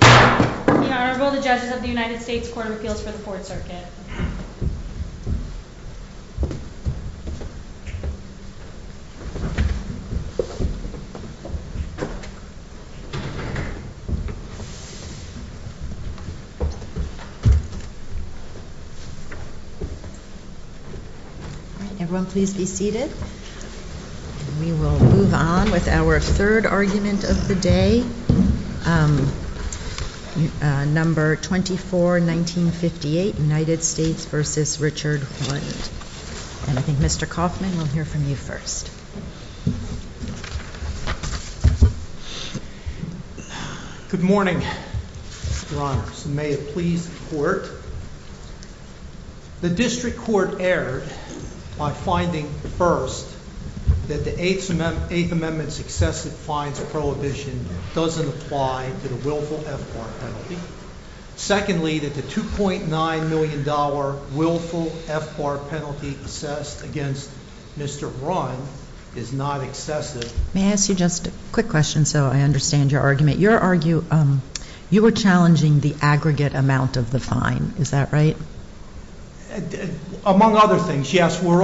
The Honorable, the Judges of the United States Court of Appeals for the Fourth Circuit. We will move on with our third argument of the day. The District Court erred by finding, first, that the Eighth Amendment's excessive fines prohibition doesn't apply to the willful FBAR penalty. Secondly, that the $2.9 million willful FBAR penalty assessed against Mr. Rund is not excessive. May I ask you just a quick question so I understand your argument? You were challenging the aggregate amount of the fine, is that right? Among other things, yes. We're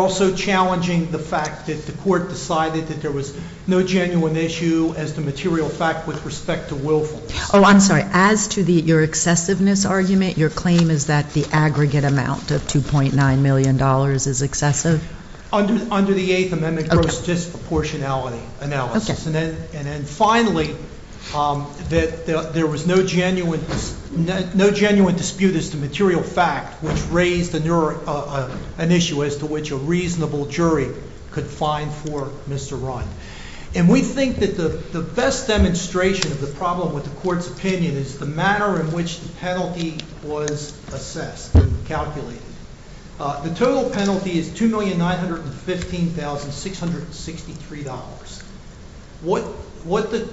also challenging the fact that the Court decided that there was no genuine issue as to material fact with respect to willfulness. Oh, I'm sorry. As to your excessiveness argument, your claim is that the aggregate amount of $2.9 million is excessive? Under the Eighth Amendment, gross disproportionality analysis. And then finally, that there was no genuine dispute as to material fact, which raised an issue as to which a reasonable jury could find for Mr. Rund. And we think that the best demonstration of the problem with the Court's opinion is the manner in which the penalty was assessed and calculated. The total penalty is $2,915,663. What the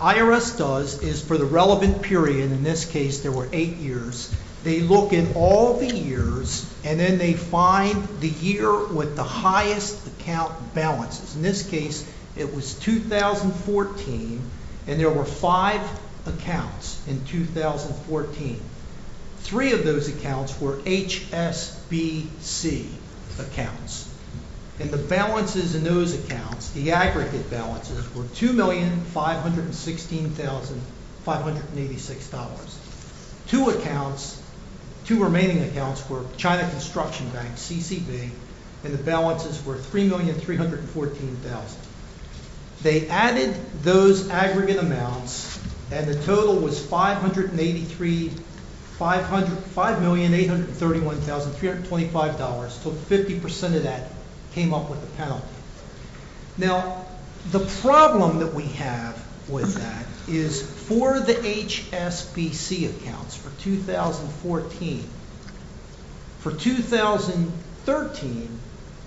IRS does is for the relevant period, in this case there were eight years, they look at all the years and then they find the year with the highest account balances. In this case, it was 2014 and there were five accounts in 2014. Three of those accounts were HSBC accounts. And the balances in those accounts, the aggregate balances, were $2,516,586. Two accounts, two remaining accounts were China Construction Bank, CCB, and the balances were $3,314,000. They added those aggregate amounts and the total was $5,831,325. So 50% of that came up with the penalty. Now, the problem that we have with that is for the HSBC accounts for 2014, for 2013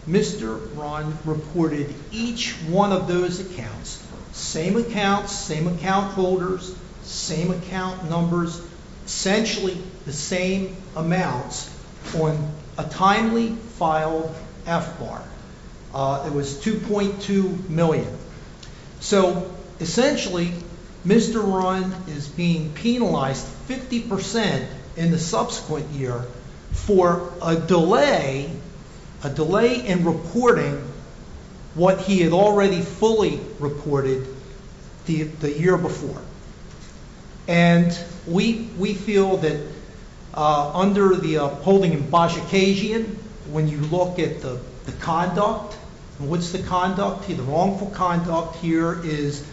Mr. Rund reported each one of those accounts, same accounts, same account holders, same account numbers, essentially the same amounts on a timely filed FBAR. It was $2.2 million. So essentially Mr. Rund is being penalized 50% in the subsequent year for a delay, a delay in reporting what he had already fully reported the year before. And we feel that under the holding in Bajikasian, when you look at the conduct, what's the conduct? The wrongful conduct here is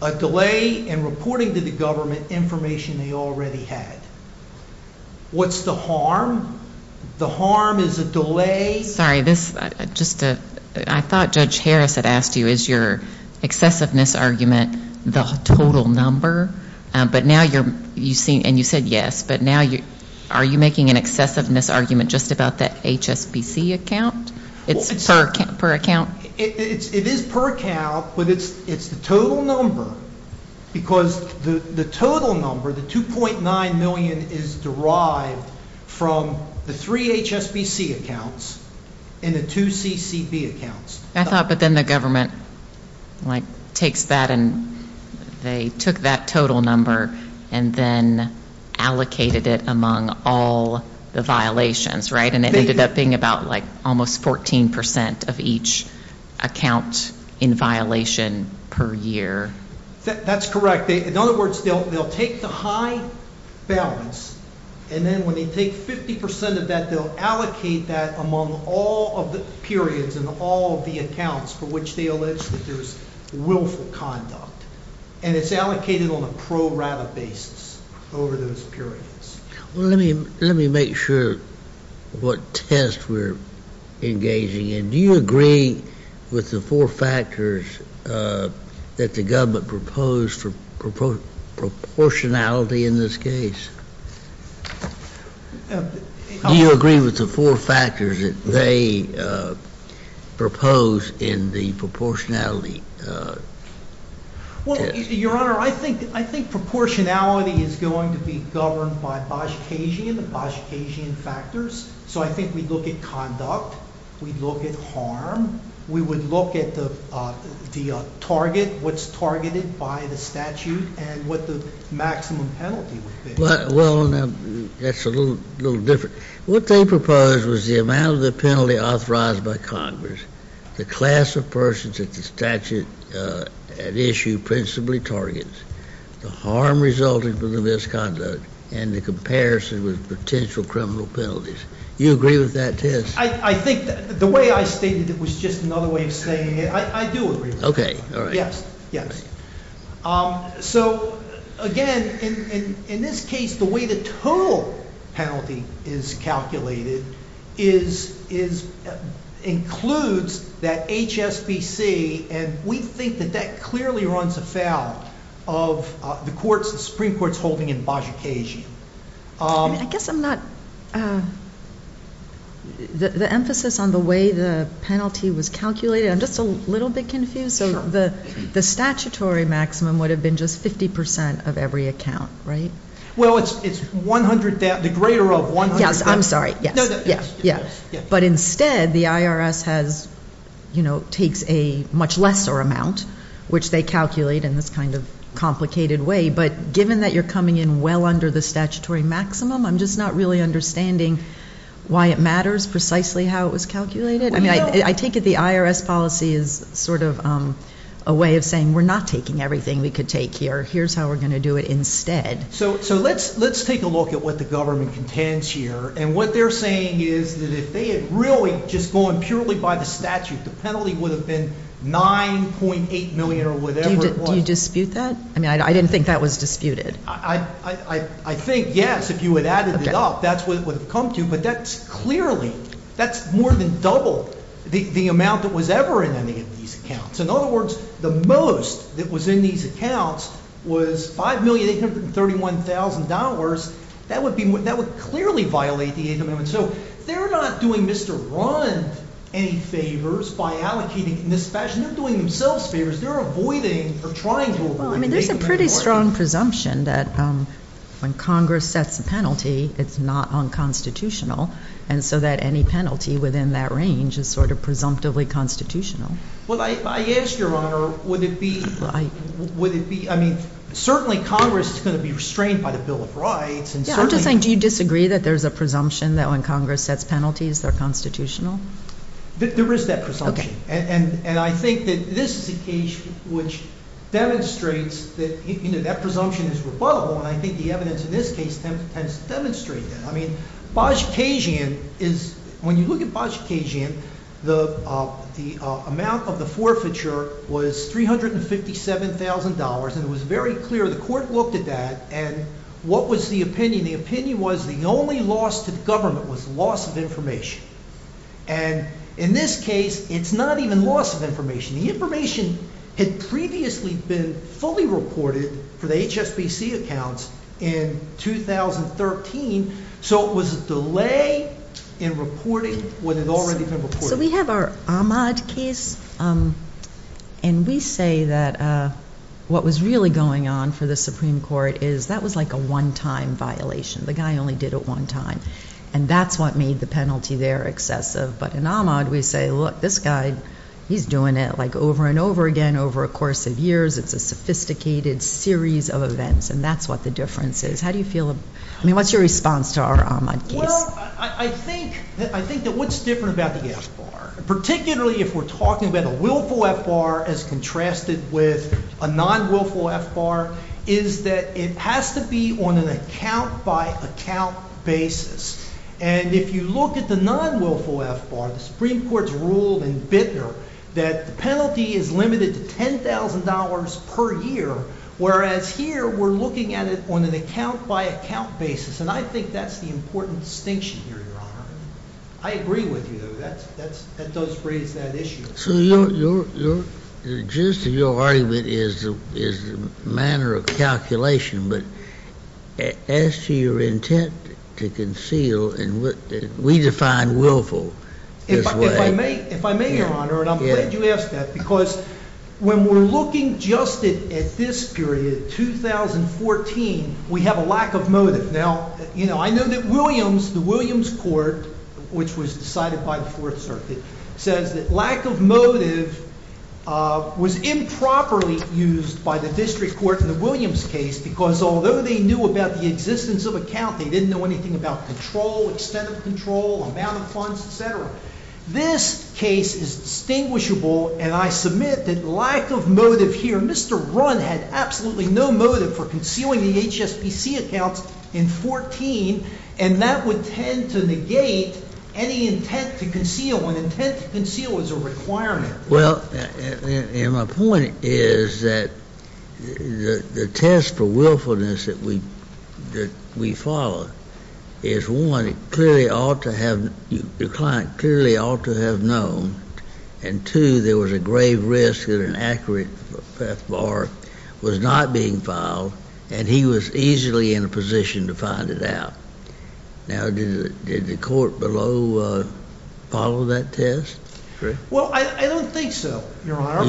a delay in reporting to the government information they already had. What's the harm? The harm is a delay in reporting. I thought Judge Harris had asked you, is your excessiveness argument the total number? And you said yes, but now are you making an excessiveness argument just about that HSBC account? It's per account? It is per account, but it's the total number because the total number, the $2.9 million is derived from the three HSBC accounts and the two CCB accounts. I thought but then the government like takes that and they took that total number and then allocated it among all the violations, right? And it ended up being about like almost 14% of each account in violation per year. That's correct. In other words, they'll take the high balance and then when they take 50% of that, they'll allocate that among all of the periods and all of the accounts for which they allege that there's willful conduct. And it's allocated on a pro rata basis over those periods. Let me make sure what test we're engaging in. Do you agree with the four factors that the government proposed for proportionality in this case? Do you agree with the four factors that they propose in the proportionality test? Well, Your Honor, I think proportionality is going to be governed by Bosch-Cajun and Bosch-Cajun factors. So I think we look at conduct, we look at harm, we would look at the target, what's targeted by the statute and what the maximum penalty would be. Well, that's a little different. What they proposed was the amount of the penalty authorized by Congress, the class of persons that the statute at issue principally targets, the harm resulted from the misconduct, and the comparison with potential criminal penalties. Do you agree with that test? I think that the way I stated it was just another way of saying it. I do agree. Okay. All right. Yes. Yes. So again, in this case, the way the total penalty is calculated includes that HSBC and we think that that clearly runs afoul of the Supreme Court's holding in Bosch-Cajun. I guess I'm not, the emphasis on the way the penalty was calculated, I'm just a little bit confused. The statutory maximum would have been just 50% of every account, right? Well, it's 100, the greater of 100. Yes, I'm sorry. Yes. But instead, the IRS takes a much lesser amount, which they calculate in this kind of complicated way, but given that you're coming in well under the statutory maximum, I'm just not really understanding why it matters precisely how it was calculated. I mean, I take it the IRS policy is sort of a way of saying we're not taking everything we could take here. Here's how we're going to do it instead. So let's take a look at what the government contends here. And what they're saying is that if they had really just gone purely by the statute, the penalty would have been 9.8 million or whatever it was. Do you dispute that? I mean, I didn't think that was disputed. I think yes, if you had added it up, that's what it would have come to. But that's clearly, that's more than double the amount that was ever in any of these accounts. In other words, the most that was in these accounts was $5,831,000. That would be, that would clearly violate the 8th Amendment. So they're not doing Mr. Rund any favors by allocating in this fashion. They're doing themselves favors. They're avoiding or trying to avoid. I mean, there's a pretty strong presumption that when Congress sets a penalty, it's not unconstitutional. And so that any penalty within that range is sort of presumptively constitutional. Well, I asked your Honor, would it be, would it be, I mean, certainly Congress is going to be restrained by the Bill of Rights. Yeah, I'm just saying, do you disagree that there's a presumption that when Congress sets penalties, they're constitutional? There is that presumption. And I think that this is a case which demonstrates that, you know, that presumption is rebuttable. And I think the evidence in this case tends to demonstrate that. I mean, Bozsikasian is, when you look at Bozsikasian, the amount of the forfeiture was $357,000. And it was very clear. The court looked at that and what was the opinion? The opinion was the only loss to the government was loss of information. And in this case, it's not even loss of information. The information had previously been fully reported for the HSBC accounts in 2013. So it was a delay in reporting what had already been reported. So we have our Ahmaud case. And we say that what was really going on for the Supreme Court is that was like a one-time violation. The guy only did it one time. And that's what made the penalty there excessive. But in Ahmaud, we say, look, this guy, he's doing it like over and over again over a course of years. It's a sophisticated series of events. And that's what the difference is. How do you look at Ahmaud case? Well, I think that what's different about the FBAR, particularly if we're talking about a willful FBAR as contrasted with a non-willful FBAR, is that it has to be on an account-by-account basis. And if you look at the non-willful FBAR, the Supreme Court's rule in Bittner that the penalty is limited to $10,000 per year, whereas here we're looking at it on an account-by-account basis. And I think that's the important distinction here, Your Honor. I agree with you, though. That does raise that issue. So just your argument is the manner of calculation. But as to your intent to conceal, we define willful this way. If I may, Your Honor, and I'm glad you asked that, because when we're looking just at this period, 2014, we have a lack of motive. Now, you know, I know that Williams, the Williams Court, which was decided by the Fourth Circuit, says that lack of motive was improperly used by the District Court in the Williams case, because although they knew about the existence of account, they didn't know anything about control, extent of control, amount of funds, et cetera. This case is distinguishable, and I submit that lack of motive here, Mr. Runn had absolutely no motive for concealing the HSBC accounts in 2014, and that would tend to negate any intent to conceal when intent to conceal is a requirement. Well, and my point is that the test for willfulness that we follow is, one, it clearly ought to have the client clearly ought to have known, and, two, there was a grave risk at an accurate time that Beth Barr was not being filed, and he was easily in a position to find it out. Now, did the court below follow that test? Well, I don't think so, Your Honor.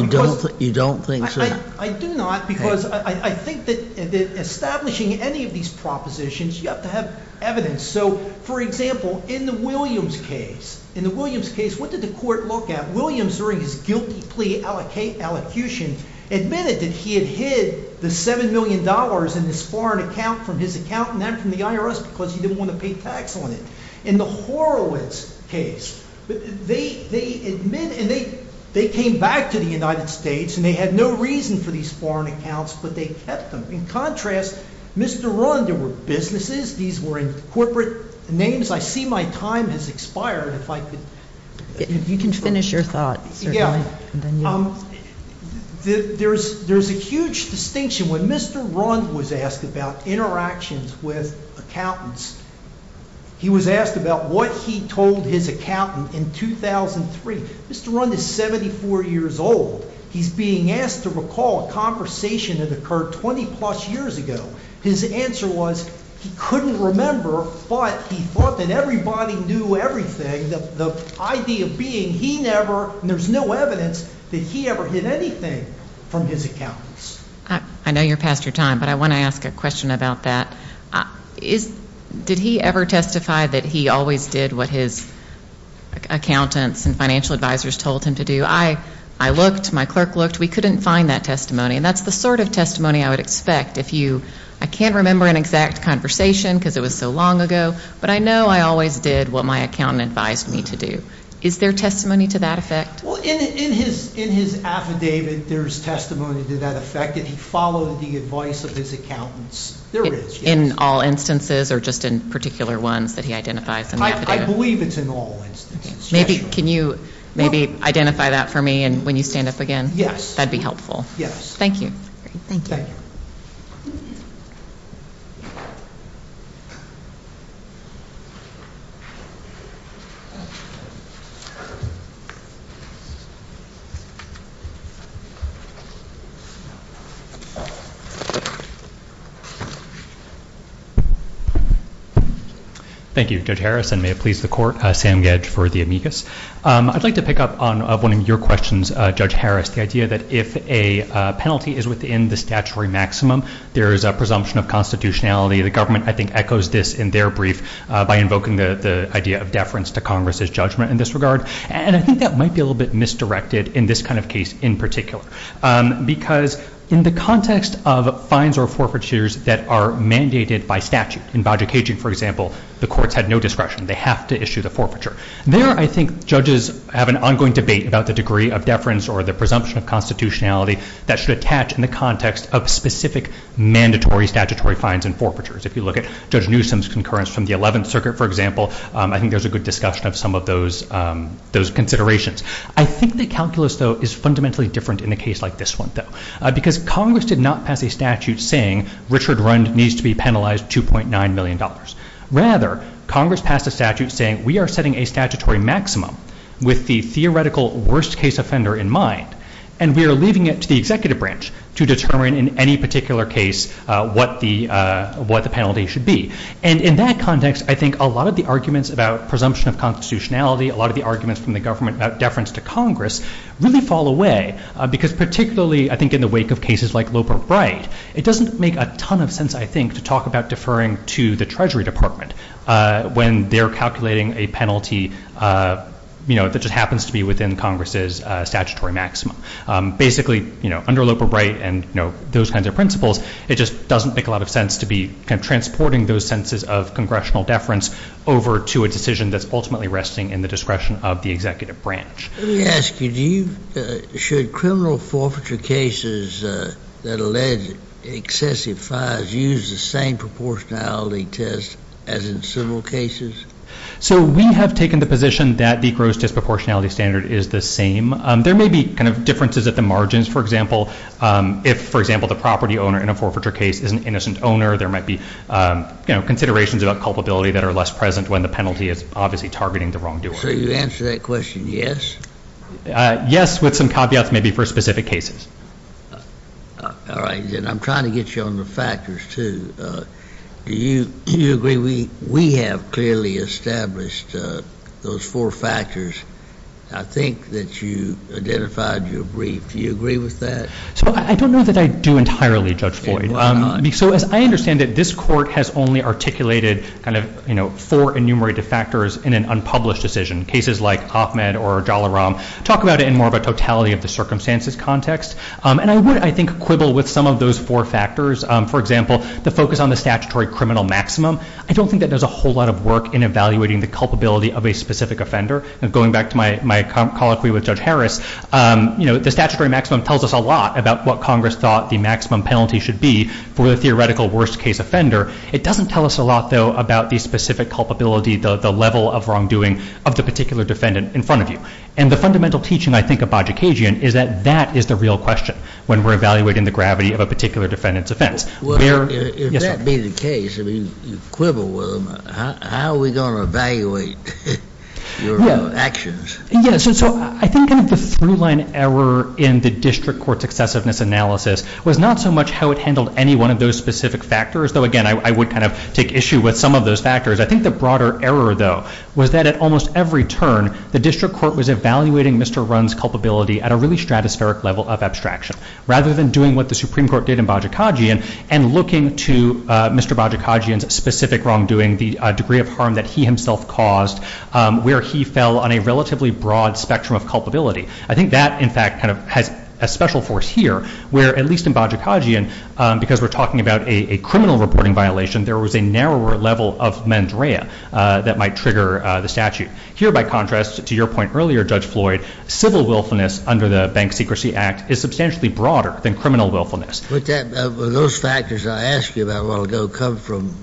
You don't think so? I do not, because I think that establishing any of these propositions, you have to have evidence. So, for example, in the Williams case, in the Williams case, what did the court look at? Williams, during his guilty plea allocution, admitted that he had hid the $7 million in his foreign account from his accountant and from the IRS because he didn't want to pay tax on it. In the Horowitz case, they admitted, and they came back to the United States, and they had no reason for these foreign accounts, but they kept them. In contrast, Mr. Runn, there were businesses, these were in corporate names. I see my time has expired, if I could... You can finish your thoughts, sir. Yeah. There's a huge distinction. When Mr. Runn was asked about interactions with accountants, he was asked about what he told his accountant in 2003. Mr. Runn is 74 years old. He's being asked to recall a conversation that occurred 20-plus years ago. His answer was he couldn't remember, but he thought that everybody knew everything, the idea being he never, and there's no evidence that he ever hid anything from his accountants. I know you're past your time, but I want to ask a question about that. Did he ever testify that he always did what his accountants and financial advisors told him to do? I looked, my clerk looked. We couldn't find that testimony, and that's the sort of testimony I would expect if you, I can't remember an exact conversation because it was so long ago, but I know I always did what my accountant advised me to do. Is there testimony to that effect? Well, in his affidavit, there's testimony to that effect that he followed the advice of his accountants. There is, yes. In all instances, or just in particular ones that he identifies in the affidavit? I believe it's in all instances, yes. Can you maybe identify that for me when you stand up again? Yes. That'd be helpful. Yes. Thank you. Great. Thank you. Thank you, Judge Harris, and may it please the Court, Sam Gedge for the amicus. I'd like to pick up on one of your questions, Judge Harris, the idea that if a penalty is within the statutory maximum, there is a presumption of constitutionality. The government, I think, echoes this in their brief by invoking the idea of deference to Congress's judgment in this regard, and I think that might be a little bit misdirected in this kind of case in particular, because in the context of fines or forfeitures that are mandated by statute, in Baja Cajun, for example, the courts had no discretion. They have to issue the forfeiture. There, I think, judges have an ongoing debate about the degree of deference or the presumption of constitutionality that should attach in the context of specific mandatory statutory fines and forfeitures. If you look at Judge Newsom's concurrence from the 11th Circuit, for example, I think there's a good discussion of some of those considerations. I think the calculus, though, is fundamentally different in a case like this one, though, because Congress did not pass a statute saying Richard Rund needs to be penalized $2.9 million. Rather, Congress passed a statute saying we are setting a statutory maximum with the theoretical worst-case offender in mind, and we are leaving it to the executive branch to determine in any particular case what the penalty should be. And in that context, I think a lot of the arguments about presumption of constitutionality, a lot of the arguments from the government about deference to Congress really fall away, because particularly, I think, in the wake of cases like Loper-Bride, it doesn't make a ton of sense, I think, to talk about deferring to the Treasury Department when they're calculating a penalty that just happens to be within Congress's statutory maximum. Basically, under Loper-Bride and those kinds of principles, it just doesn't make a lot of sense to be transporting those sentences of congressional deference over to a decision that's ultimately resting in the discretion of the executive branch. Let me ask you, should criminal forfeiture cases that allege excessive fines use the same proportionality test as in civil cases? So we have taken the position that the gross disproportionality standard is the same. There may be kind of differences at the margins, for example, if, for example, the property owner in a forfeiture case is an innocent owner, there might be considerations about culpability that are less present when the penalty is obviously targeting the wrongdoer. So you answer that question, yes? Yes, with some caveats maybe for specific cases. All right. And I'm trying to get you on the factors, too. Do you agree we have clearly established those four factors? I think that you identified your brief. Do you agree with that? So I don't know that I do entirely, Judge Floyd. So as I understand it, this court has only articulated kind of four enumerated factors in an unpublished decision. Cases like Ahmed or Jalaram talk about it in more of a totality of the circumstances context. And I would, I think, quibble with some of those four factors. For example, the focus on the statutory criminal maximum. I don't think that there's a whole lot of work in evaluating the culpability of a specific offender. And going back to my colloquy with Judge Harris, the statutory maximum tells us a lot about what Congress thought the maximum penalty should be for the theoretical worst case offender. It doesn't tell us a lot, though, about the specific culpability, the level of wrongdoing of the particular defendant in front of you. And the fundamental teaching, I think, of Bajikagian is that that is the real question when we're evaluating the gravity of a particular defendant's offense. Well, if that be the case, if you quibble with them, how are we going to evaluate your actions? Yes. So I think the through-line error in the district court's excessiveness analysis was not so much how it handled any one of those specific factors, though, again, I would kind of take issue with some of those factors. I think the broader error, though, was that at almost every turn, the district court was evaluating Mr. Runn's culpability at a really stratospheric level of abstraction, rather than doing what the Supreme Court did in Bajikagian and looking to Mr. Bajikagian's specific wrongdoing, the degree of harm that he himself caused, where he fell on a relatively broad spectrum of culpability. I think that, in fact, kind of has a special force here, where, at least in Bajikagian, because we're talking about a criminal reporting violation, there was a narrower level of mens rea that might trigger the statute. Here, by contrast, to your point earlier, Judge Floyd, civil willfulness under the Bank Secrecy Act is substantially broader than criminal willfulness. But those factors I asked you about a while ago come from,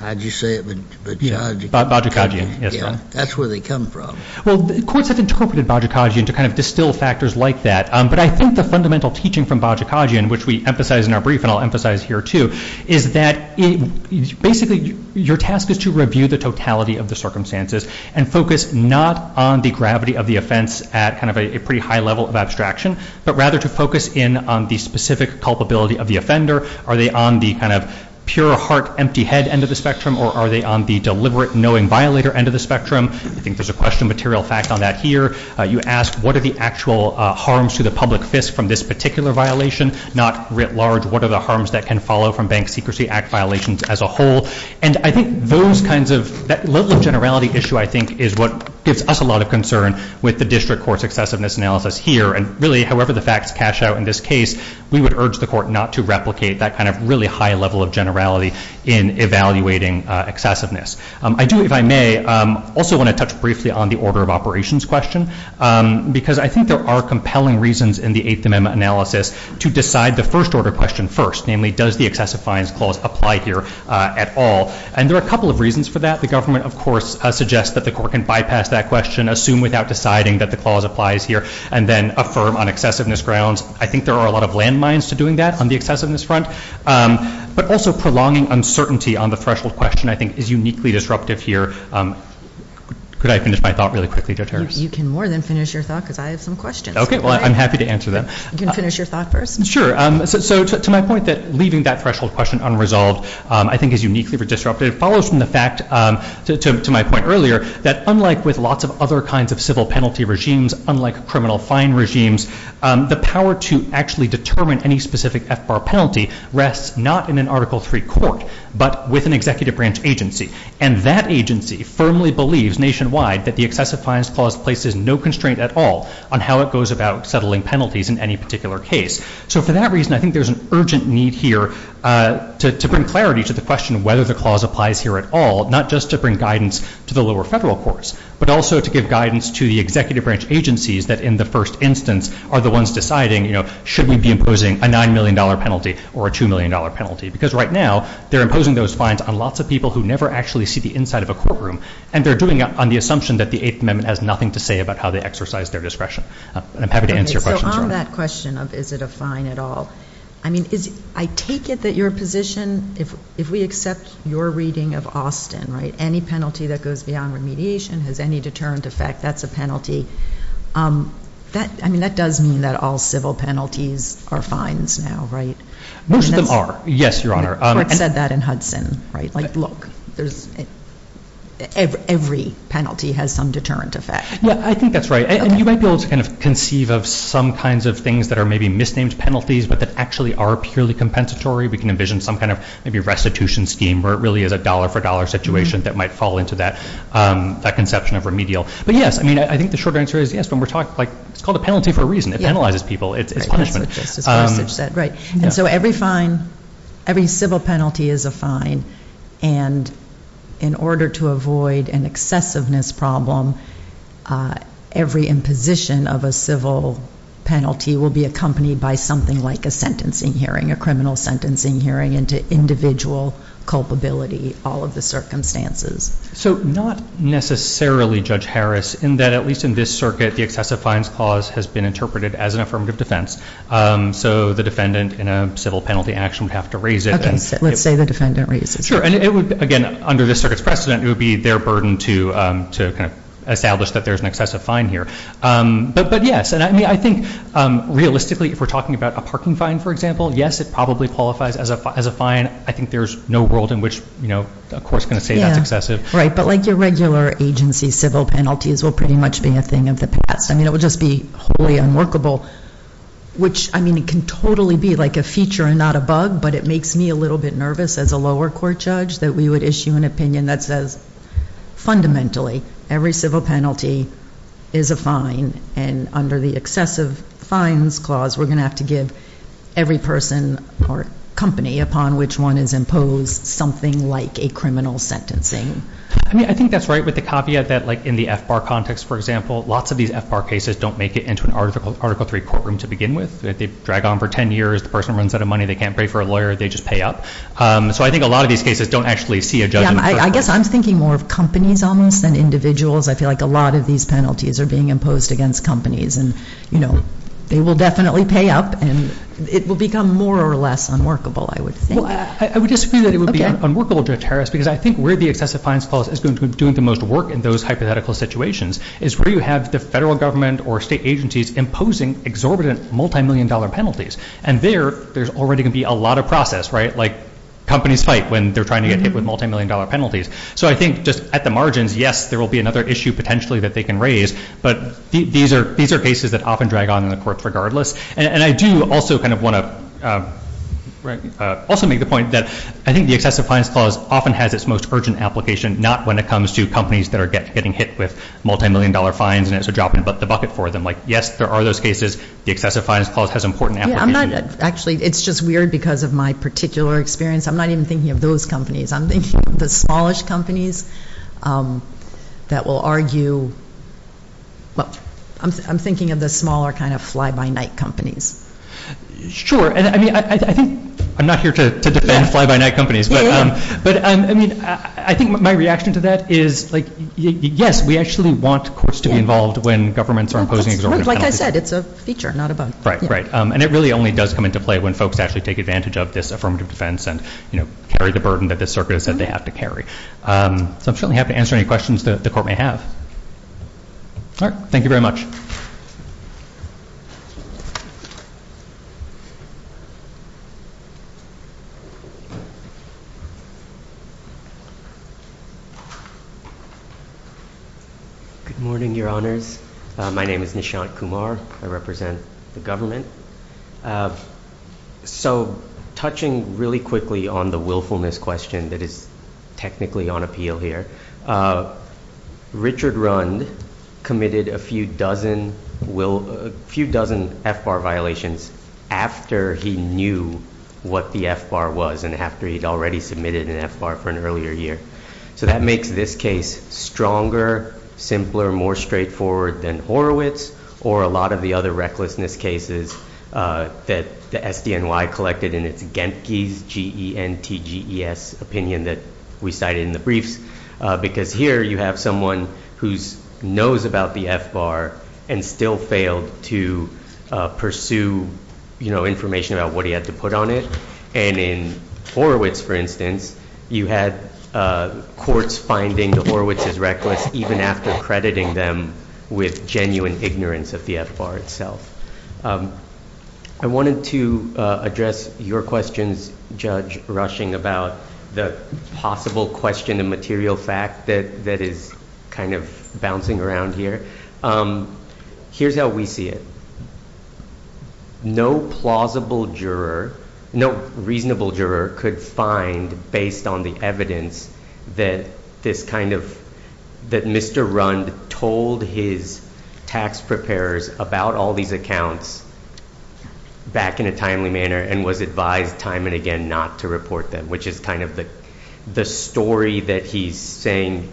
how did you say it, Bajikagian? Bajikagian, yes. That's where they come from. Well, courts have interpreted Bajikagian to kind of distill factors like that, but I think the fundamental teaching from Bajikagian, which we emphasize in our brief, and I'll emphasize here, is that, basically, your task is to review the totality of the circumstances and focus not on the gravity of the offense at kind of a pretty high level of abstraction, but rather to focus in on the specific culpability of the offender. Are they on the kind of pure heart, empty head end of the spectrum, or are they on the deliberate, knowing violator end of the spectrum? I think there's a question material fact on that here. You ask, what are the actual harms to the public from this particular violation, not writ large, what are the harms that can follow from Bank Secrecy Act violations as a whole? And I think those kinds of, that level of generality issue, I think, is what gives us a lot of concern with the district court's excessiveness analysis here. And really, however the facts cash out in this case, we would urge the court not to replicate that kind of really high level of generality in evaluating excessiveness. I do, if I may, also want to touch briefly on the order of operations question, because I think there are compelling reasons in the Eighth Amendment analysis to decide the first order question first, namely, does the excessive fines clause apply here at all? And there are a couple of reasons for that. The government, of course, suggests that the court can bypass that question, assume without deciding that the clause applies here, and then affirm on excessiveness grounds. I think there are a lot of landmines to doing that on the excessiveness front, but also prolonging uncertainty on the threshold question, I think, is uniquely disruptive here. Could I finish my thought really quickly, Judge Harris? You can more than finish your thought, because I have some questions. OK, well, I'm happy to answer them. You can finish your thought first. Sure. So to my point that leaving that threshold question unresolved, I think, is uniquely disruptive. It follows from the fact, to my point earlier, that unlike with lots of other kinds of civil penalty regimes, unlike criminal fine regimes, the power to actually determine any specific FBAR penalty rests not in an Article III court, but with an executive branch agency. And that agency firmly believes nationwide that the excessive fines places no constraint at all on how it goes about settling penalties in any particular case. So for that reason, I think there's an urgent need here to bring clarity to the question whether the clause applies here at all, not just to bring guidance to the lower federal courts, but also to give guidance to the executive branch agencies that, in the first instance, are the ones deciding, should we be imposing a $9 million penalty or a $2 million penalty? Because right now, they're imposing those fines on lots of people who never actually see the nothing to say about how they exercise their discretion. I'm happy to answer your questions. So on that question of is it a fine at all, I mean, I take it that your position, if we accept your reading of Austin, right, any penalty that goes beyond remediation has any deterrent effect, that's a penalty. I mean, that does mean that all civil penalties are fines now, right? Most of them are, yes, Your Honor. Court said that in Hudson, right? Like, look, every penalty has some deterrent effect. Yeah, I think that's right. And you might be able to kind of conceive of some kinds of things that are maybe misnamed penalties, but that actually are purely compensatory. We can envision some kind of maybe restitution scheme where it really is a dollar-for-dollar situation that might fall into that conception of remedial. But yes, I mean, I think the short answer is yes, when we're talking, like, it's called a penalty for a reason. It penalizes people. It's punishment. Right. And so every fine, every civil penalty is a fine. And in order to avoid an excessiveness problem, every imposition of a civil penalty will be accompanied by something like a sentencing hearing, a criminal sentencing hearing into individual culpability, all of the circumstances. So not necessarily, Judge Harris, in that at least in this circuit, the excessive fines clause has been interpreted as an affirmative defense. So the defendant in a civil penalty action would have to raise it. Okay. Let's say the defendant raises it. Sure. And it would, again, under this circuit's precedent, it would be their burden to kind of establish that there's an excessive fine here. But yes. And I mean, I think realistically, if we're talking about a parking fine, for example, yes, it probably qualifies as a fine. I think there's no world in which, you know, a court's going to say that's excessive. Right. But like your regular agency, civil penalties will pretty much be a thing of the past. I mean, it would just be wholly unworkable, which I mean, it can totally be like a feature and not a bug. But it makes me a little bit nervous as a lower court judge that we would issue an opinion that says, fundamentally, every civil penalty is a fine. And under the excessive fines clause, we're going to have to give every person or company upon which one is imposed something like a criminal sentencing. I mean, I think that's right with the caveat that like in the FBAR context, for example, lots of these FBAR cases don't make it into an Article 3 courtroom to begin with. They drag on for 10 years. The person runs out of money. They can't pay for a lawyer. They just pay up. So I think a lot of these cases don't actually see a judge. I guess I'm thinking more of companies almost than individuals. I feel like a lot of these penalties are being imposed against companies. And, you know, they will definitely pay up and it will become more or less unworkable, I would think. I would disagree that it would be unworkable, Judge Harris, because I think where the excessive fines clause is going to be doing the most work in those hypothetical situations is where you have the federal government or state agencies imposing exorbitant multimillion-dollar penalties. And there, there's already going to be a lot of process, right? Like companies fight when they're trying to get hit with multimillion-dollar penalties. So I think just at the margins, yes, there will be another issue potentially that they can raise. But these are cases that often drag on in the courts regardless. And I do also kind of want to also make the point that I think the excessive fines clause often has its most urgent application, not when it comes to companies that are getting hit with multimillion-dollar fines and it's a drop in the bucket for them. Like, yes, there are those cases. The excessive fines clause has important application. Yeah, I'm not, actually, it's just weird because of my particular experience. I'm not even thinking of those companies. I'm thinking of the smallish companies that will argue, well, I'm thinking of the smaller kind of fly-by-night companies. Sure. I mean, I think, I'm not here to defend fly-by-night companies, but I mean, I think my reaction to that is, like, yes, we actually want courts to be involved when governments are imposing exorbitant penalties. Like I said, it's a feature, not a bug. Right, right. And it really only does come into play when folks actually take advantage of this affirmative defense and, you know, carry the burden that this circuit has said they have to carry. So I'm certainly happy to answer any questions that the court may have. All right. Thank you very much. Good morning, Your Honors. My name is Nishant Kumar. I represent the government. So touching really quickly on the willfulness question that is technically on appeal here, Richard Rund committed a few dozen FBAR violations after he knew what the FBAR was and after he'd already submitted an FBAR for an earlier year. So that makes this case stronger, simpler, more straightforward than Horowitz or a lot of the other recklessness cases that the SDNY collected in its Gentges, G-E-N-T-G-E-S opinion that we cited in the briefs. Because here you have someone who knows about the FBAR and still failed to pursue, you know, information about what he had to put on it. And in Horowitz, for instance, you had courts finding that Horowitz is reckless even after crediting them with genuine ignorance of the FBAR itself. I wanted to address your questions, Judge Rushing, about the possible question and material fact that is kind of bouncing around here. Here's how we see it. No plausible juror, no reasonable juror could find based on the evidence that this kind of, that Mr. Rund told his tax preparers about all these accounts back in a timely manner and was advised time and again not to report them, which is kind of the story that he's saying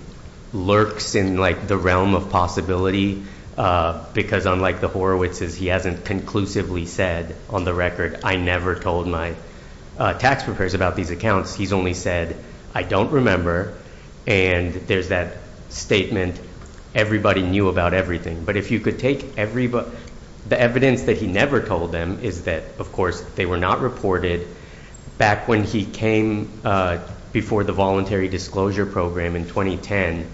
lurks in, like, the realm of possibility. Because unlike the Horowitzes, he hasn't conclusively said on the record, I never told my tax preparers about these accounts. He's only said, I don't remember. And there's that statement, everybody knew about everything. But if you could take everybody, the evidence that he never told them is that, of course, they were not reported. Back when he came before the Voluntary Disclosure Program in 2010,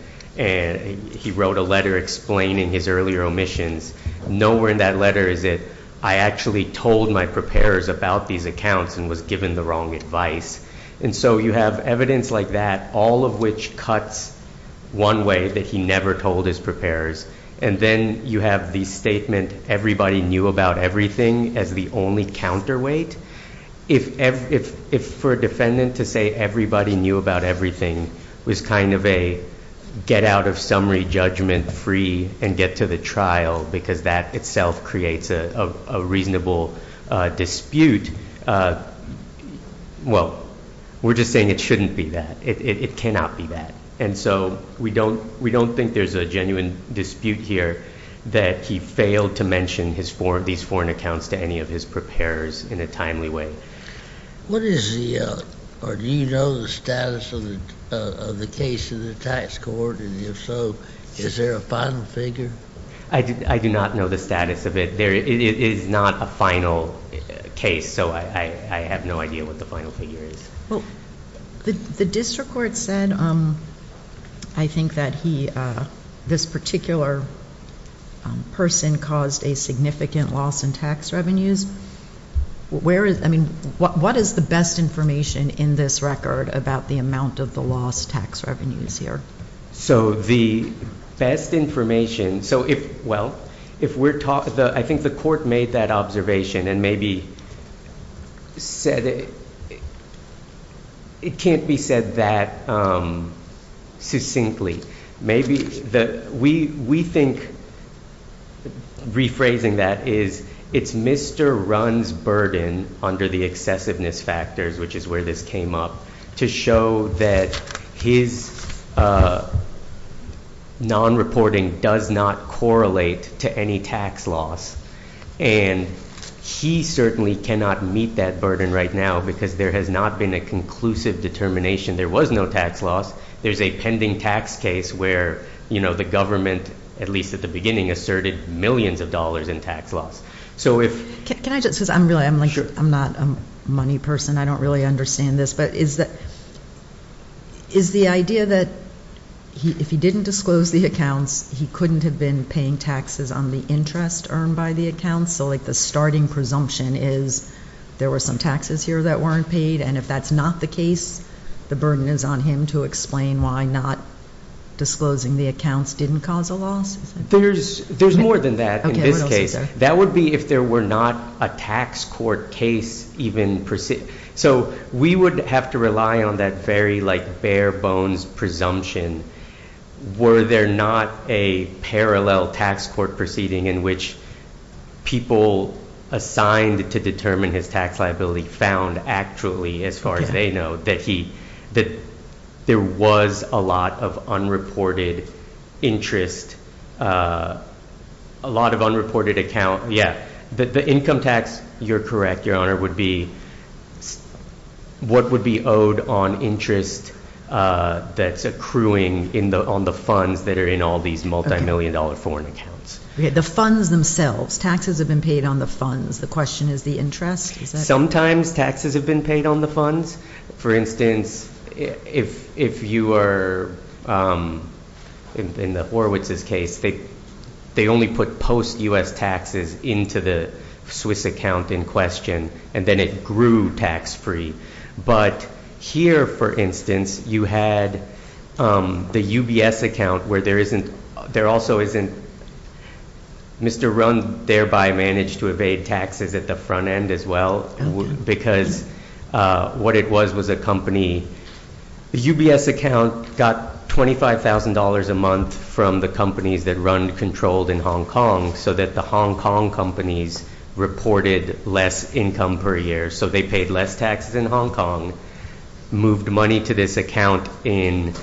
he wrote a letter explaining his earlier omissions. Nowhere in that letter is it, I actually told my preparers about these accounts and was given the wrong advice. And so you have evidence like that, all of which cuts one way that he never told his preparers. And then you have the statement, everybody knew about everything as the only counterweight. If for a defendant to say everybody knew about everything was kind of a get out of summary judgment free and get to the trial, because that itself creates a reasonable dispute. Well, we're just saying it shouldn't be that. It cannot be that. And so we don't think there's a genuine dispute here that he failed to mention his foreign, these foreign accounts to any of his preparers in a timely way. What is the, or do you know the status of the case in the tax court? And if so, is there a final figure? I do not know the status of it. There is not a final case. So I have no idea what the final figure is. Well, the district court said, I think that he, this particular person caused a significant loss in tax revenues. Where is, I mean, what is the best information in this record about the amount of the lost tax revenues here? So the best information, so if, well, if we're talking, I think the court made that observation and maybe said it, it can't be said that, um, succinctly. Maybe the, we, we think, rephrasing that is, it's Mr. Runn's burden under the excessiveness factors, which is where this came up, to show that his, uh, non-reporting does not correlate to any tax loss. And he certainly cannot meet that burden right now because there has not been a conclusive determination. There was no tax loss. There's a pending tax case where, you know, the government, at least at the beginning, asserted millions of dollars in tax loss. So if... Can I just, because I'm really, I'm like, I'm not a money person, I don't really understand this, but is that, is the idea that he, if he didn't disclose the accounts, he couldn't have been paying taxes on the interest earned by the accounts? So like the starting presumption is there were some taxes here that weren't paid, and if that's not the case, the burden is on him to explain why not disclosing the accounts didn't cause a loss? There's, there's more than that in this case. That would be if there were not a tax court case even proceeding. So we would have to rely on that very, like, bare bones presumption. Were there not a parallel tax court proceeding in which people assigned to determine his tax liability found actually, as far as they know, that he, that there was a lot of unreported interest, a lot of unreported account? Yeah, the income tax, you're correct, Your Honor, would be what would be owed on interest that's accruing in the, on the funds that are in all these multi-million dollar foreign accounts. Okay, the funds themselves, taxes have been paid on the funds. The question is the interest? Sometimes taxes have been paid on the funds. For instance, if, if you are, in the Horowitz's case, they, they only put post-U.S. taxes into the Swiss account in question, and then it grew tax-free. But here, for instance, you had the UBS account where there isn't, there also isn't, Mr. Rund thereby managed to evade taxes at the front end as well, because what it was, was a company, the UBS account got $25,000 a month from the companies that Rund controlled in Hong Kong, so that the Hong Kong companies reported less income per year, so they paid less taxes in Hong Kong, moved money to this account in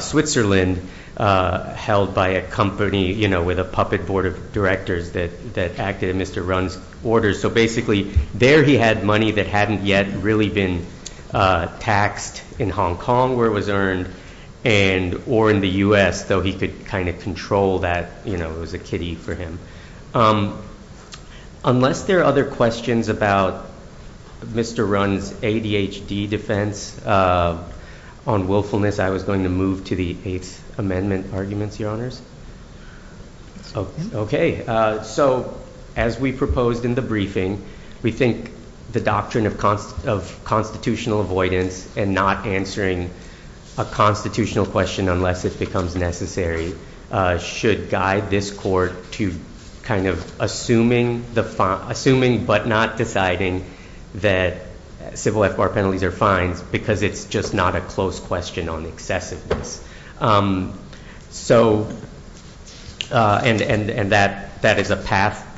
Switzerland, held by a company, you know, with a puppet board of directors that, that acted in Mr. Rund's orders. So basically, there he had money that hadn't yet really been taxed in Hong Kong, where it was earned, and, or in the U.S., though he could kind of control that, you know, it was a kiddie for him. Unless there are other questions about Mr. Rund's ADHD defense on willfulness, I was going to move to the Eighth Amendment arguments, Your Honors. Okay, so as we proposed in the briefing, we think the doctrine of constitutional avoidance and not answering a constitutional question unless it becomes necessary, should guide this Court to kind of assuming the, assuming but not deciding that civil FBAR penalties are fines, because it's just not a close question on excessiveness. So, and that is a path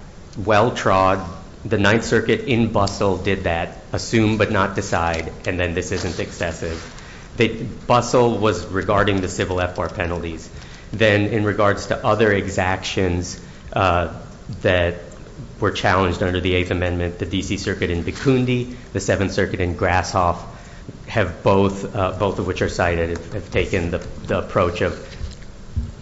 well trod. The Ninth Circuit in Bustle did that, assume but not decide, and then this isn't excessive. Bustle was regarding the civil FBAR penalties. Then, in regards to other exactions that were challenged under the Eighth Amendment, the D.C. Circuit in Bikundi, the Seventh Circuit in Grasshoff have both, both of which are cited, have taken the approach of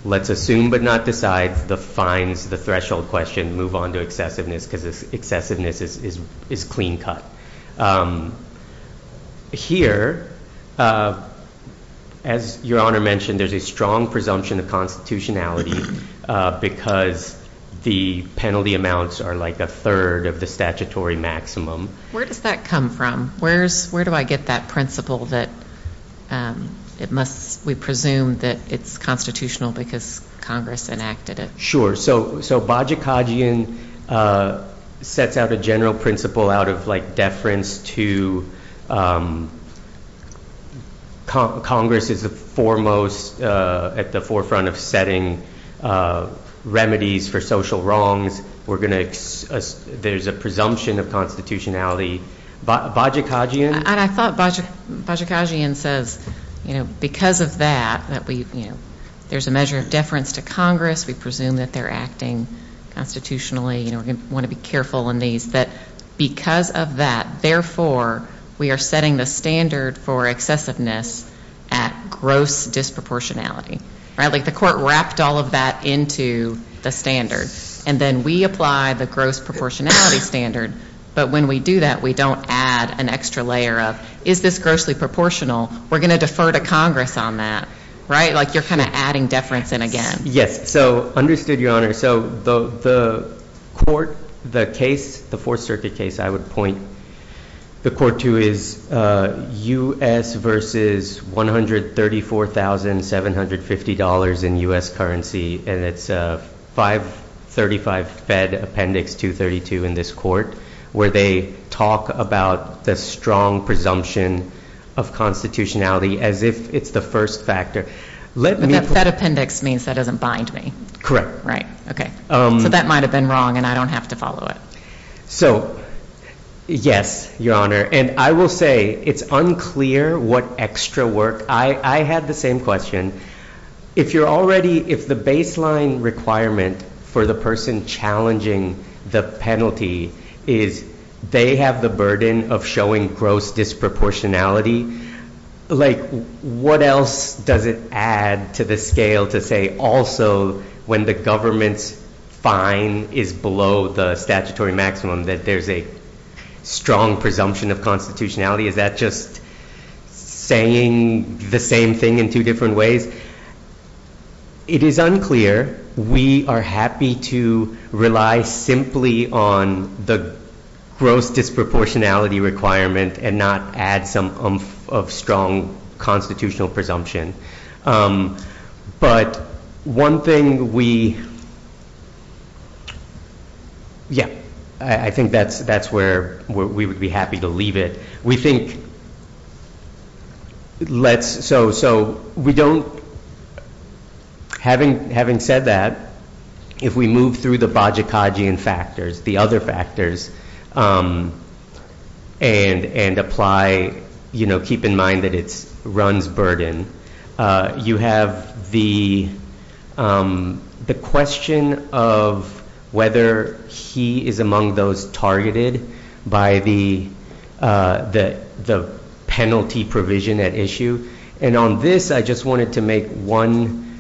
let's assume but not decide the fines, the threshold question, move on to excessiveness, because excessiveness is clean cut. Here, as Your Honor mentioned, there's a strong presumption of constitutionality, because the penalty amounts are like a third of the statutory maximum. Where does that come from? Where's, where do I get that principle that it must, we presume that it's constitutional because Congress enacted it? Sure, so, so Bajikadzian sets out a general principle out of like deference to, Congress is the foremost at the forefront of setting remedies for social wrongs. We're going to, there's a presumption of constitutionality. Bajikadzian? And I thought Bajikadzian says, you know, because of that, that we, you know, there's a measure of deference to Congress. We presume that they're acting constitutionally. You know, we're going to want to be careful in these, that because of that, therefore, we are setting the standard for excessiveness at gross disproportionality. Right, like the court wrapped all of that into the standard, and then we apply the gross proportionality standard, but when we do that, we don't add an extra layer of, is this grossly proportional? We're going to defer to Congress on that, right? Like you're kind of adding deference in again. Yes, so understood, Your Honor. So the court, the case, the Fourth Circuit case, I would point the court to is U.S. versus $134,750 in U.S. currency, and it's 535 Fed Appendix 232 in this court, where they talk about the strong presumption of constitutionality as if it's the first factor. That appendix means that doesn't bind me. Right, okay. So that might have been wrong, and I don't have to follow it. So, yes, Your Honor, and I will say it's unclear what extra work, I had the same question. If you're already, if the baseline requirement for the person challenging the penalty is they have the burden of showing gross disproportionality, like what else does it add to the scale to say also when the government's fine is below the statutory maximum that there's a strong presumption of constitutionality? Is that just saying the same thing in two different ways? It is unclear. We are happy to rely simply on the gross disproportionality requirement and not add some oomph of strong constitutional presumption. But one thing we, yeah, I think that's where we would be happy to leave it. We think, let's, so we don't, having said that, if we move through the Bajikadzian factors, the other factors, and apply, you know, keep in mind that it runs burden. You have the question of whether he is among those targeted by the penalty provision at issue, and on this I just wanted to make one,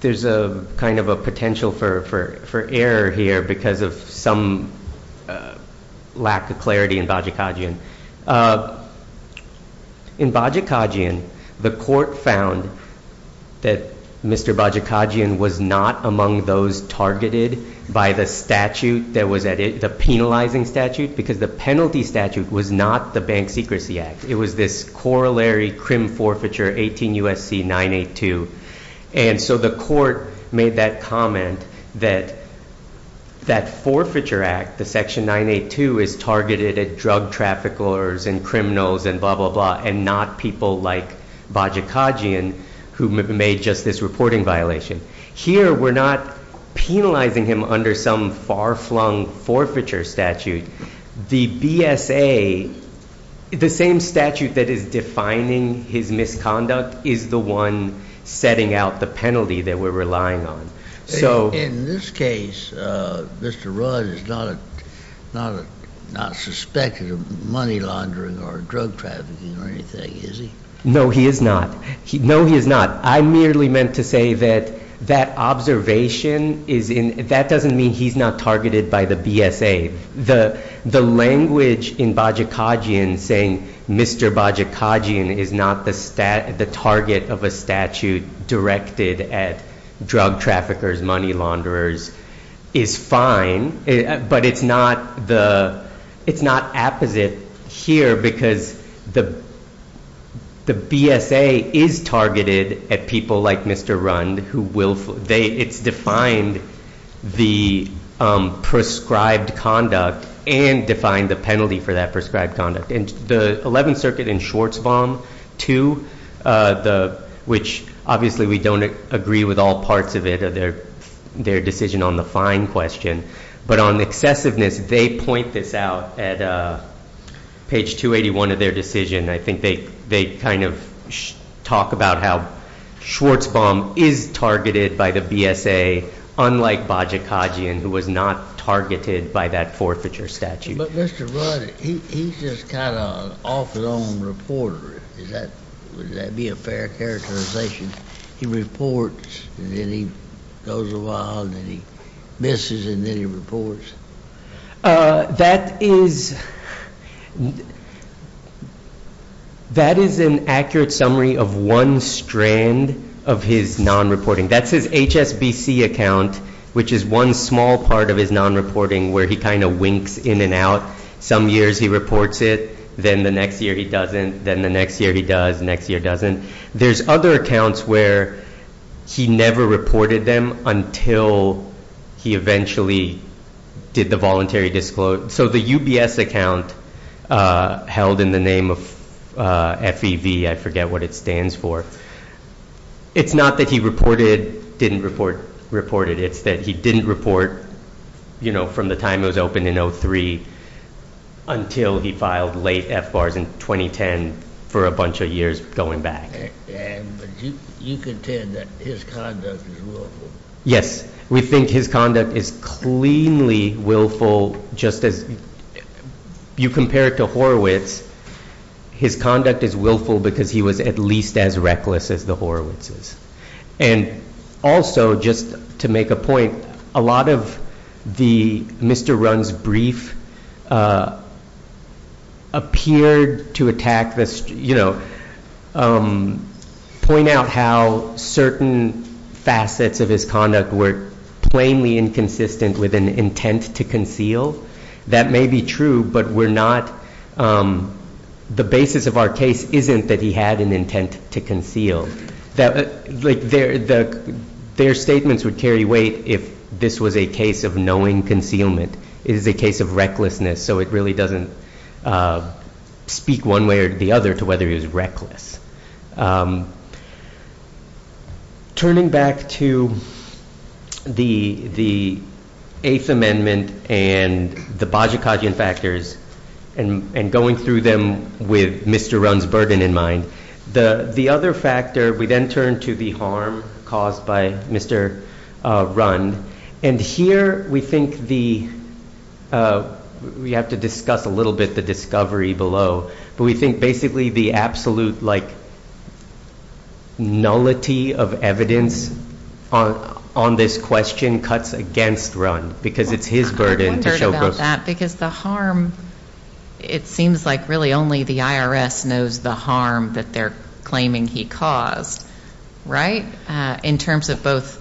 there's a kind of a potential for error here because of some lack of clarity in Bajikadzian. In Bajikadzian, the court found that Mr. Bajikadzian was not among those targeted by the statute that was at it, the penalizing statute, because the penalty statute was not the Bank Secrecy Act. It was this Corollary Crim Forfeiture 18 U.S.C. 982, and so the court made that comment that that forfeiture act, the section 982, is targeted at drug traffickers and criminals and blah, blah, blah, and not people like Bajikadzian who made just this reporting violation. Here, we're not penalizing him under some far-flung forfeiture statute. The BSA, the same statute that is defining his misconduct, is the one setting out the penalty that we're relying on. In this case, Mr. Rudd is not suspected of money laundering or drug trafficking or anything, is he? No, he is not. No, he is not. I merely meant to say that that observation is in – that doesn't mean he's not targeted by the BSA. The language in Bajikadzian saying Mr. Bajikadzian is not the target of a statute directed at drug traffickers, money launderers, is fine, but it's not the – it's not apposite here because the BSA is targeted at people like Mr. Rudd who will – it's defined the prescribed conduct and defined the penalty for that prescribed conduct. And the 11th Circuit in Schwarzbaum, too, which obviously we don't agree with all parts of it, their decision on the fine question, but on excessiveness, they point this out at page 281 of their decision. I think they kind of talk about how Schwarzbaum is targeted by the BSA, unlike Bajikadzian, who was not targeted by that forfeiture statute. But Mr. Rudd, he's just kind of an off-and-on reporter. Is that – would that be a fair characterization? He reports and then he goes awhile and then he misses and then he reports? That is – that is an accurate summary of one strand of his non-reporting. That's his HSBC account, which is one small part of his non-reporting where he kind of winks in and out. Some years he reports it, then the next year he doesn't, then the next year he does, next year doesn't. There's other accounts where he never reported them until he eventually did the voluntary – so the UBS account held in the name of FEV, I forget what it stands for. It's not that he reported, didn't report, reported. It's that he didn't report, you know, from the time it was opened in 2003 until he filed late FBARs in 2010 for a bunch of years going back. But you contend that his conduct is willful. Just as you compare it to Horowitz, his conduct is willful because he was at least as reckless as the Horowitzes. And also, just to make a point, a lot of the – Mr. Runn's brief appeared to attack the – you know, point out how certain facets of his conduct were plainly inconsistent with an intent to conceal. That may be true, but we're not – the basis of our case isn't that he had an intent to conceal. Like, their statements would carry weight if this was a case of knowing concealment. It is a case of recklessness, so it really doesn't speak one way or the other to whether he was reckless. Turning back to the Eighth Amendment and the Bajikadian factors and going through them with Mr. Runn's burden in mind, the other factor – we then turn to the harm caused by Mr. Runn. And here we think the – we have to discuss a little bit the discovery below, but we think basically the absolute, like, nullity of evidence on this question cuts against Runn because it's his burden to show proof. It seems like really only the IRS knows the harm that they're claiming he caused, right? In terms of both,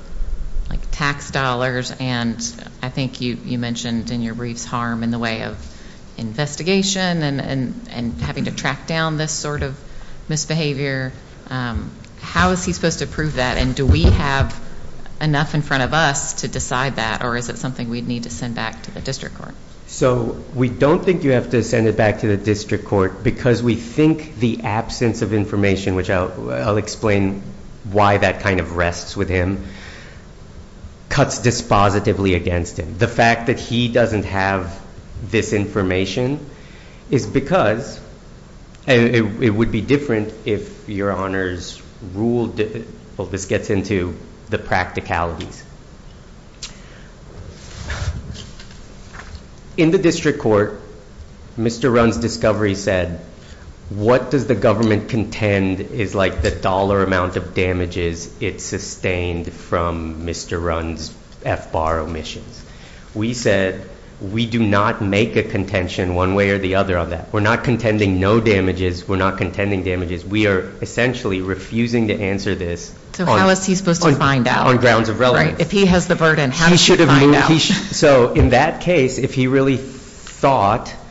like, tax dollars and I think you mentioned in your briefs harm in the way of investigation and having to track down this sort of misbehavior. How is he supposed to prove that, and do we have enough in front of us to decide that, or is it something we'd need to send back to the district court? So, we don't think you have to send it back to the district court because we think the absence of information, which I'll explain why that kind of rests with him, cuts dispositively against him. The fact that he doesn't have this information is because – and it would be different if your honors ruled – well, this gets into the practicalities. In the district court, Mr. Runn's discovery said, what does the government contend is, like, the dollar amount of damages it sustained from Mr. Runn's FBAR omissions? We said we do not make a contention one way or the other on that. We're not contending no damages. We're not contending damages. We are essentially refusing to answer this on – So, how is he supposed to find out? On grounds of relevance. If he has the burden, how does he find out? So, in that case, if he really thought –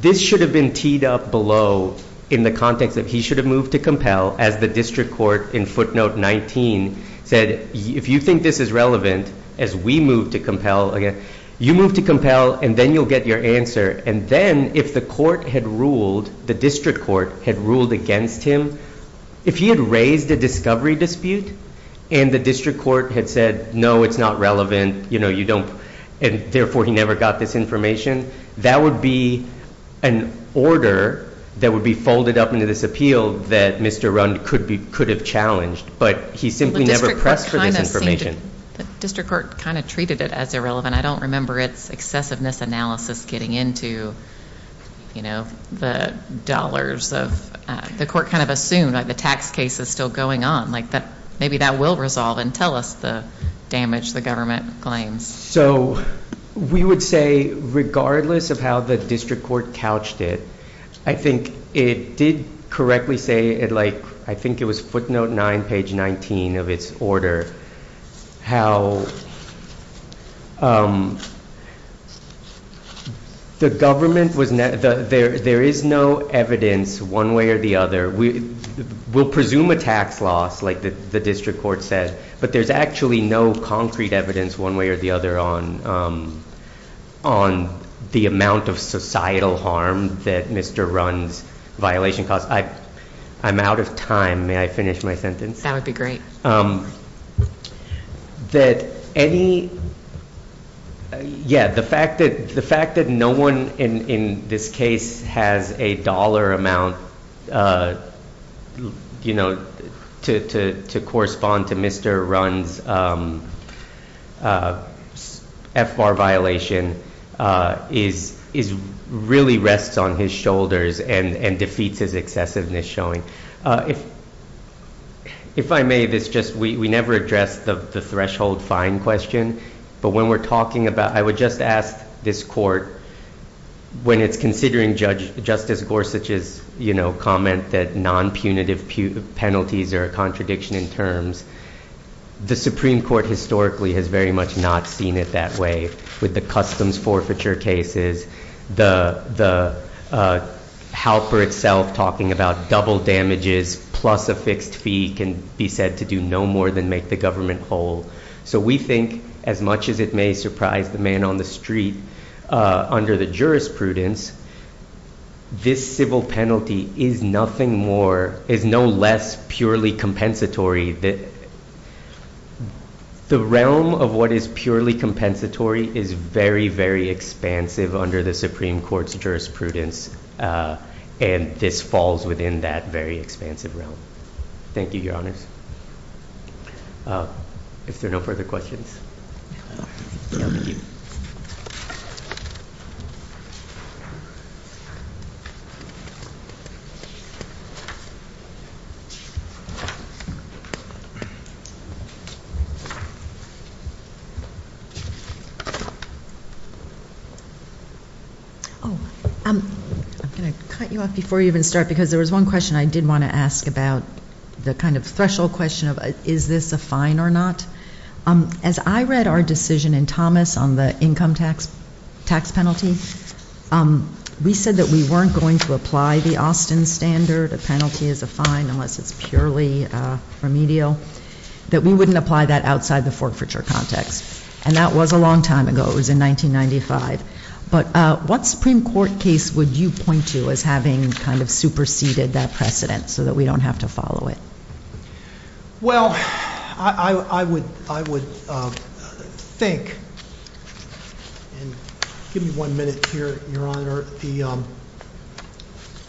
this should have been teed up below in the context that he should have moved to compel as the district court in footnote 19 said, if you think this is relevant, as we move to compel, you move to compel and then you'll get your answer. And then, if the court had ruled – the district court had ruled against him, if he had raised a discovery dispute and the district court had said, no, it's not relevant, you know, you don't – and, therefore, he never got this information, that would be an order that would be folded up into this appeal that Mr. Runn could have challenged. But he simply never pressed for this information. The district court kind of treated it as irrelevant. I don't remember its excessiveness analysis getting into, you know, the dollars of – the court kind of assumed, like, the tax case is still going on. Like, maybe that will resolve and tell us the damage the government claims. So, we would say, regardless of how the district court couched it, I think it did correctly say it like – I think it was footnote 9, page 19 of its order. How the government was – there is no evidence, one way or the other – we'll presume a tax loss, like the district court said, but there's actually no concrete evidence, one way or the other, on the amount of societal harm that Mr. Runn's violation caused. I'm out of time. May I finish my sentence? That would be great. That any – yeah, the fact that no one in this case has a dollar amount, you know, to correspond to Mr. Runn's FBAR violation is – really rests on his shoulders and defeats his excessiveness showing. If I may, this just – we never addressed the threshold fine question, but when we're talking about – I would just ask this court, when it's considering Judge – Justice Gorsuch's, you know, comment that non-punitive penalties are a contradiction in terms, the Supreme Court historically has very much not seen it that way with the customs forfeiture cases, the helper itself talking about double damages plus a fixed fee can be said to do no more than make the government whole. So we think as much as it may surprise the man on the street under the jurisprudence, this civil penalty is nothing more – is no less purely compensatory. The realm of what is purely compensatory is very, very expansive under the Supreme Court's jurisprudence and this falls within that very expansive realm. Thank you, Your Honors. If there are no further questions. Thank you. I'm going to cut you off before you even start because there was one question I did want to ask about the kind of threshold question of is this a fine or not. As I read our decision in Thomas on the income tax penalty, we said that we weren't going to apply the Austin standard, a penalty is a fine unless it's purely remedial, that we wouldn't apply that outside the forfeiture context. And that was a long time ago. It was in 1995. But what Supreme Court case would you point to as having kind of superseded that precedent so that we don't have to follow it? Well, I would think – give me one minute here, Your Honor – the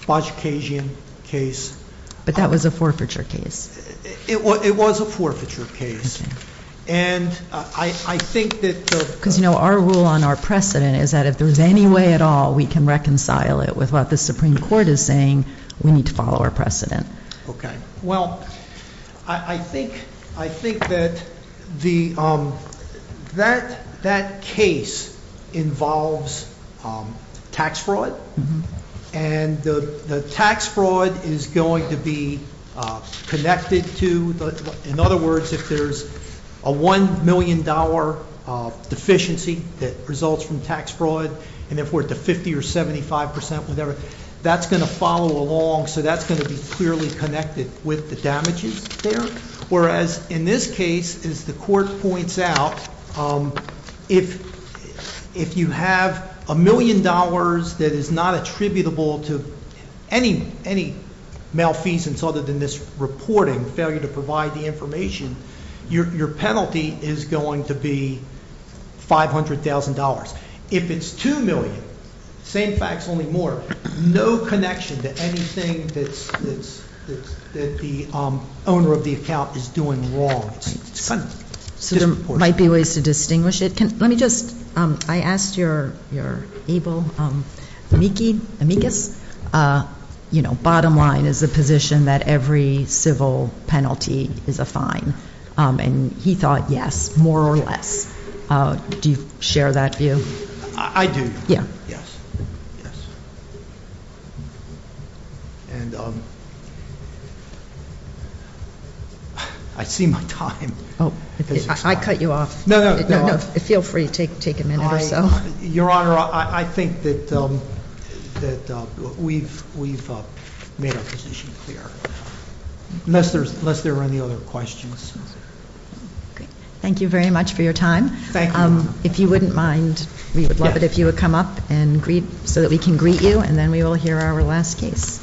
Bajikasian case. But that was a forfeiture case. It was a forfeiture case. And I think that the – Because, you know, our rule on our precedent is that if there's any way at all we can reconcile it with what the Supreme Court is saying, we need to follow our precedent. Okay. Well, I think that the – that case involves tax fraud. And the tax fraud is going to be connected to – in other words, if there's a $1 million deficiency that results from tax fraud, and if we're at the 50 or 75 percent, whatever, that's going to follow along. So that's going to be clearly connected with the damages there. Whereas in this case, as the court points out, if you have $1 million that is not attributable to any malfeasance other than this reporting, failure to provide the information, your penalty is going to be $500,000. If it's $2 million, same facts, only more, no connection to anything that the owner of the account is doing wrong. So there might be ways to distinguish it. Let me just – I asked your able amicus, you know, bottom line is the position that every civil penalty is a fine. And he thought yes, more or less. Do you share that view? I do. Yeah. Yes. Yes. And I see my time. I cut you off. No, no. No, no. Feel free to take a minute or so. Your Honor, I think that we've made our position clear, unless there are any other questions. Thank you very much for your time. Thank you. If you wouldn't mind, we would love it if you would come up so that we can greet you, and then we will hear our last case.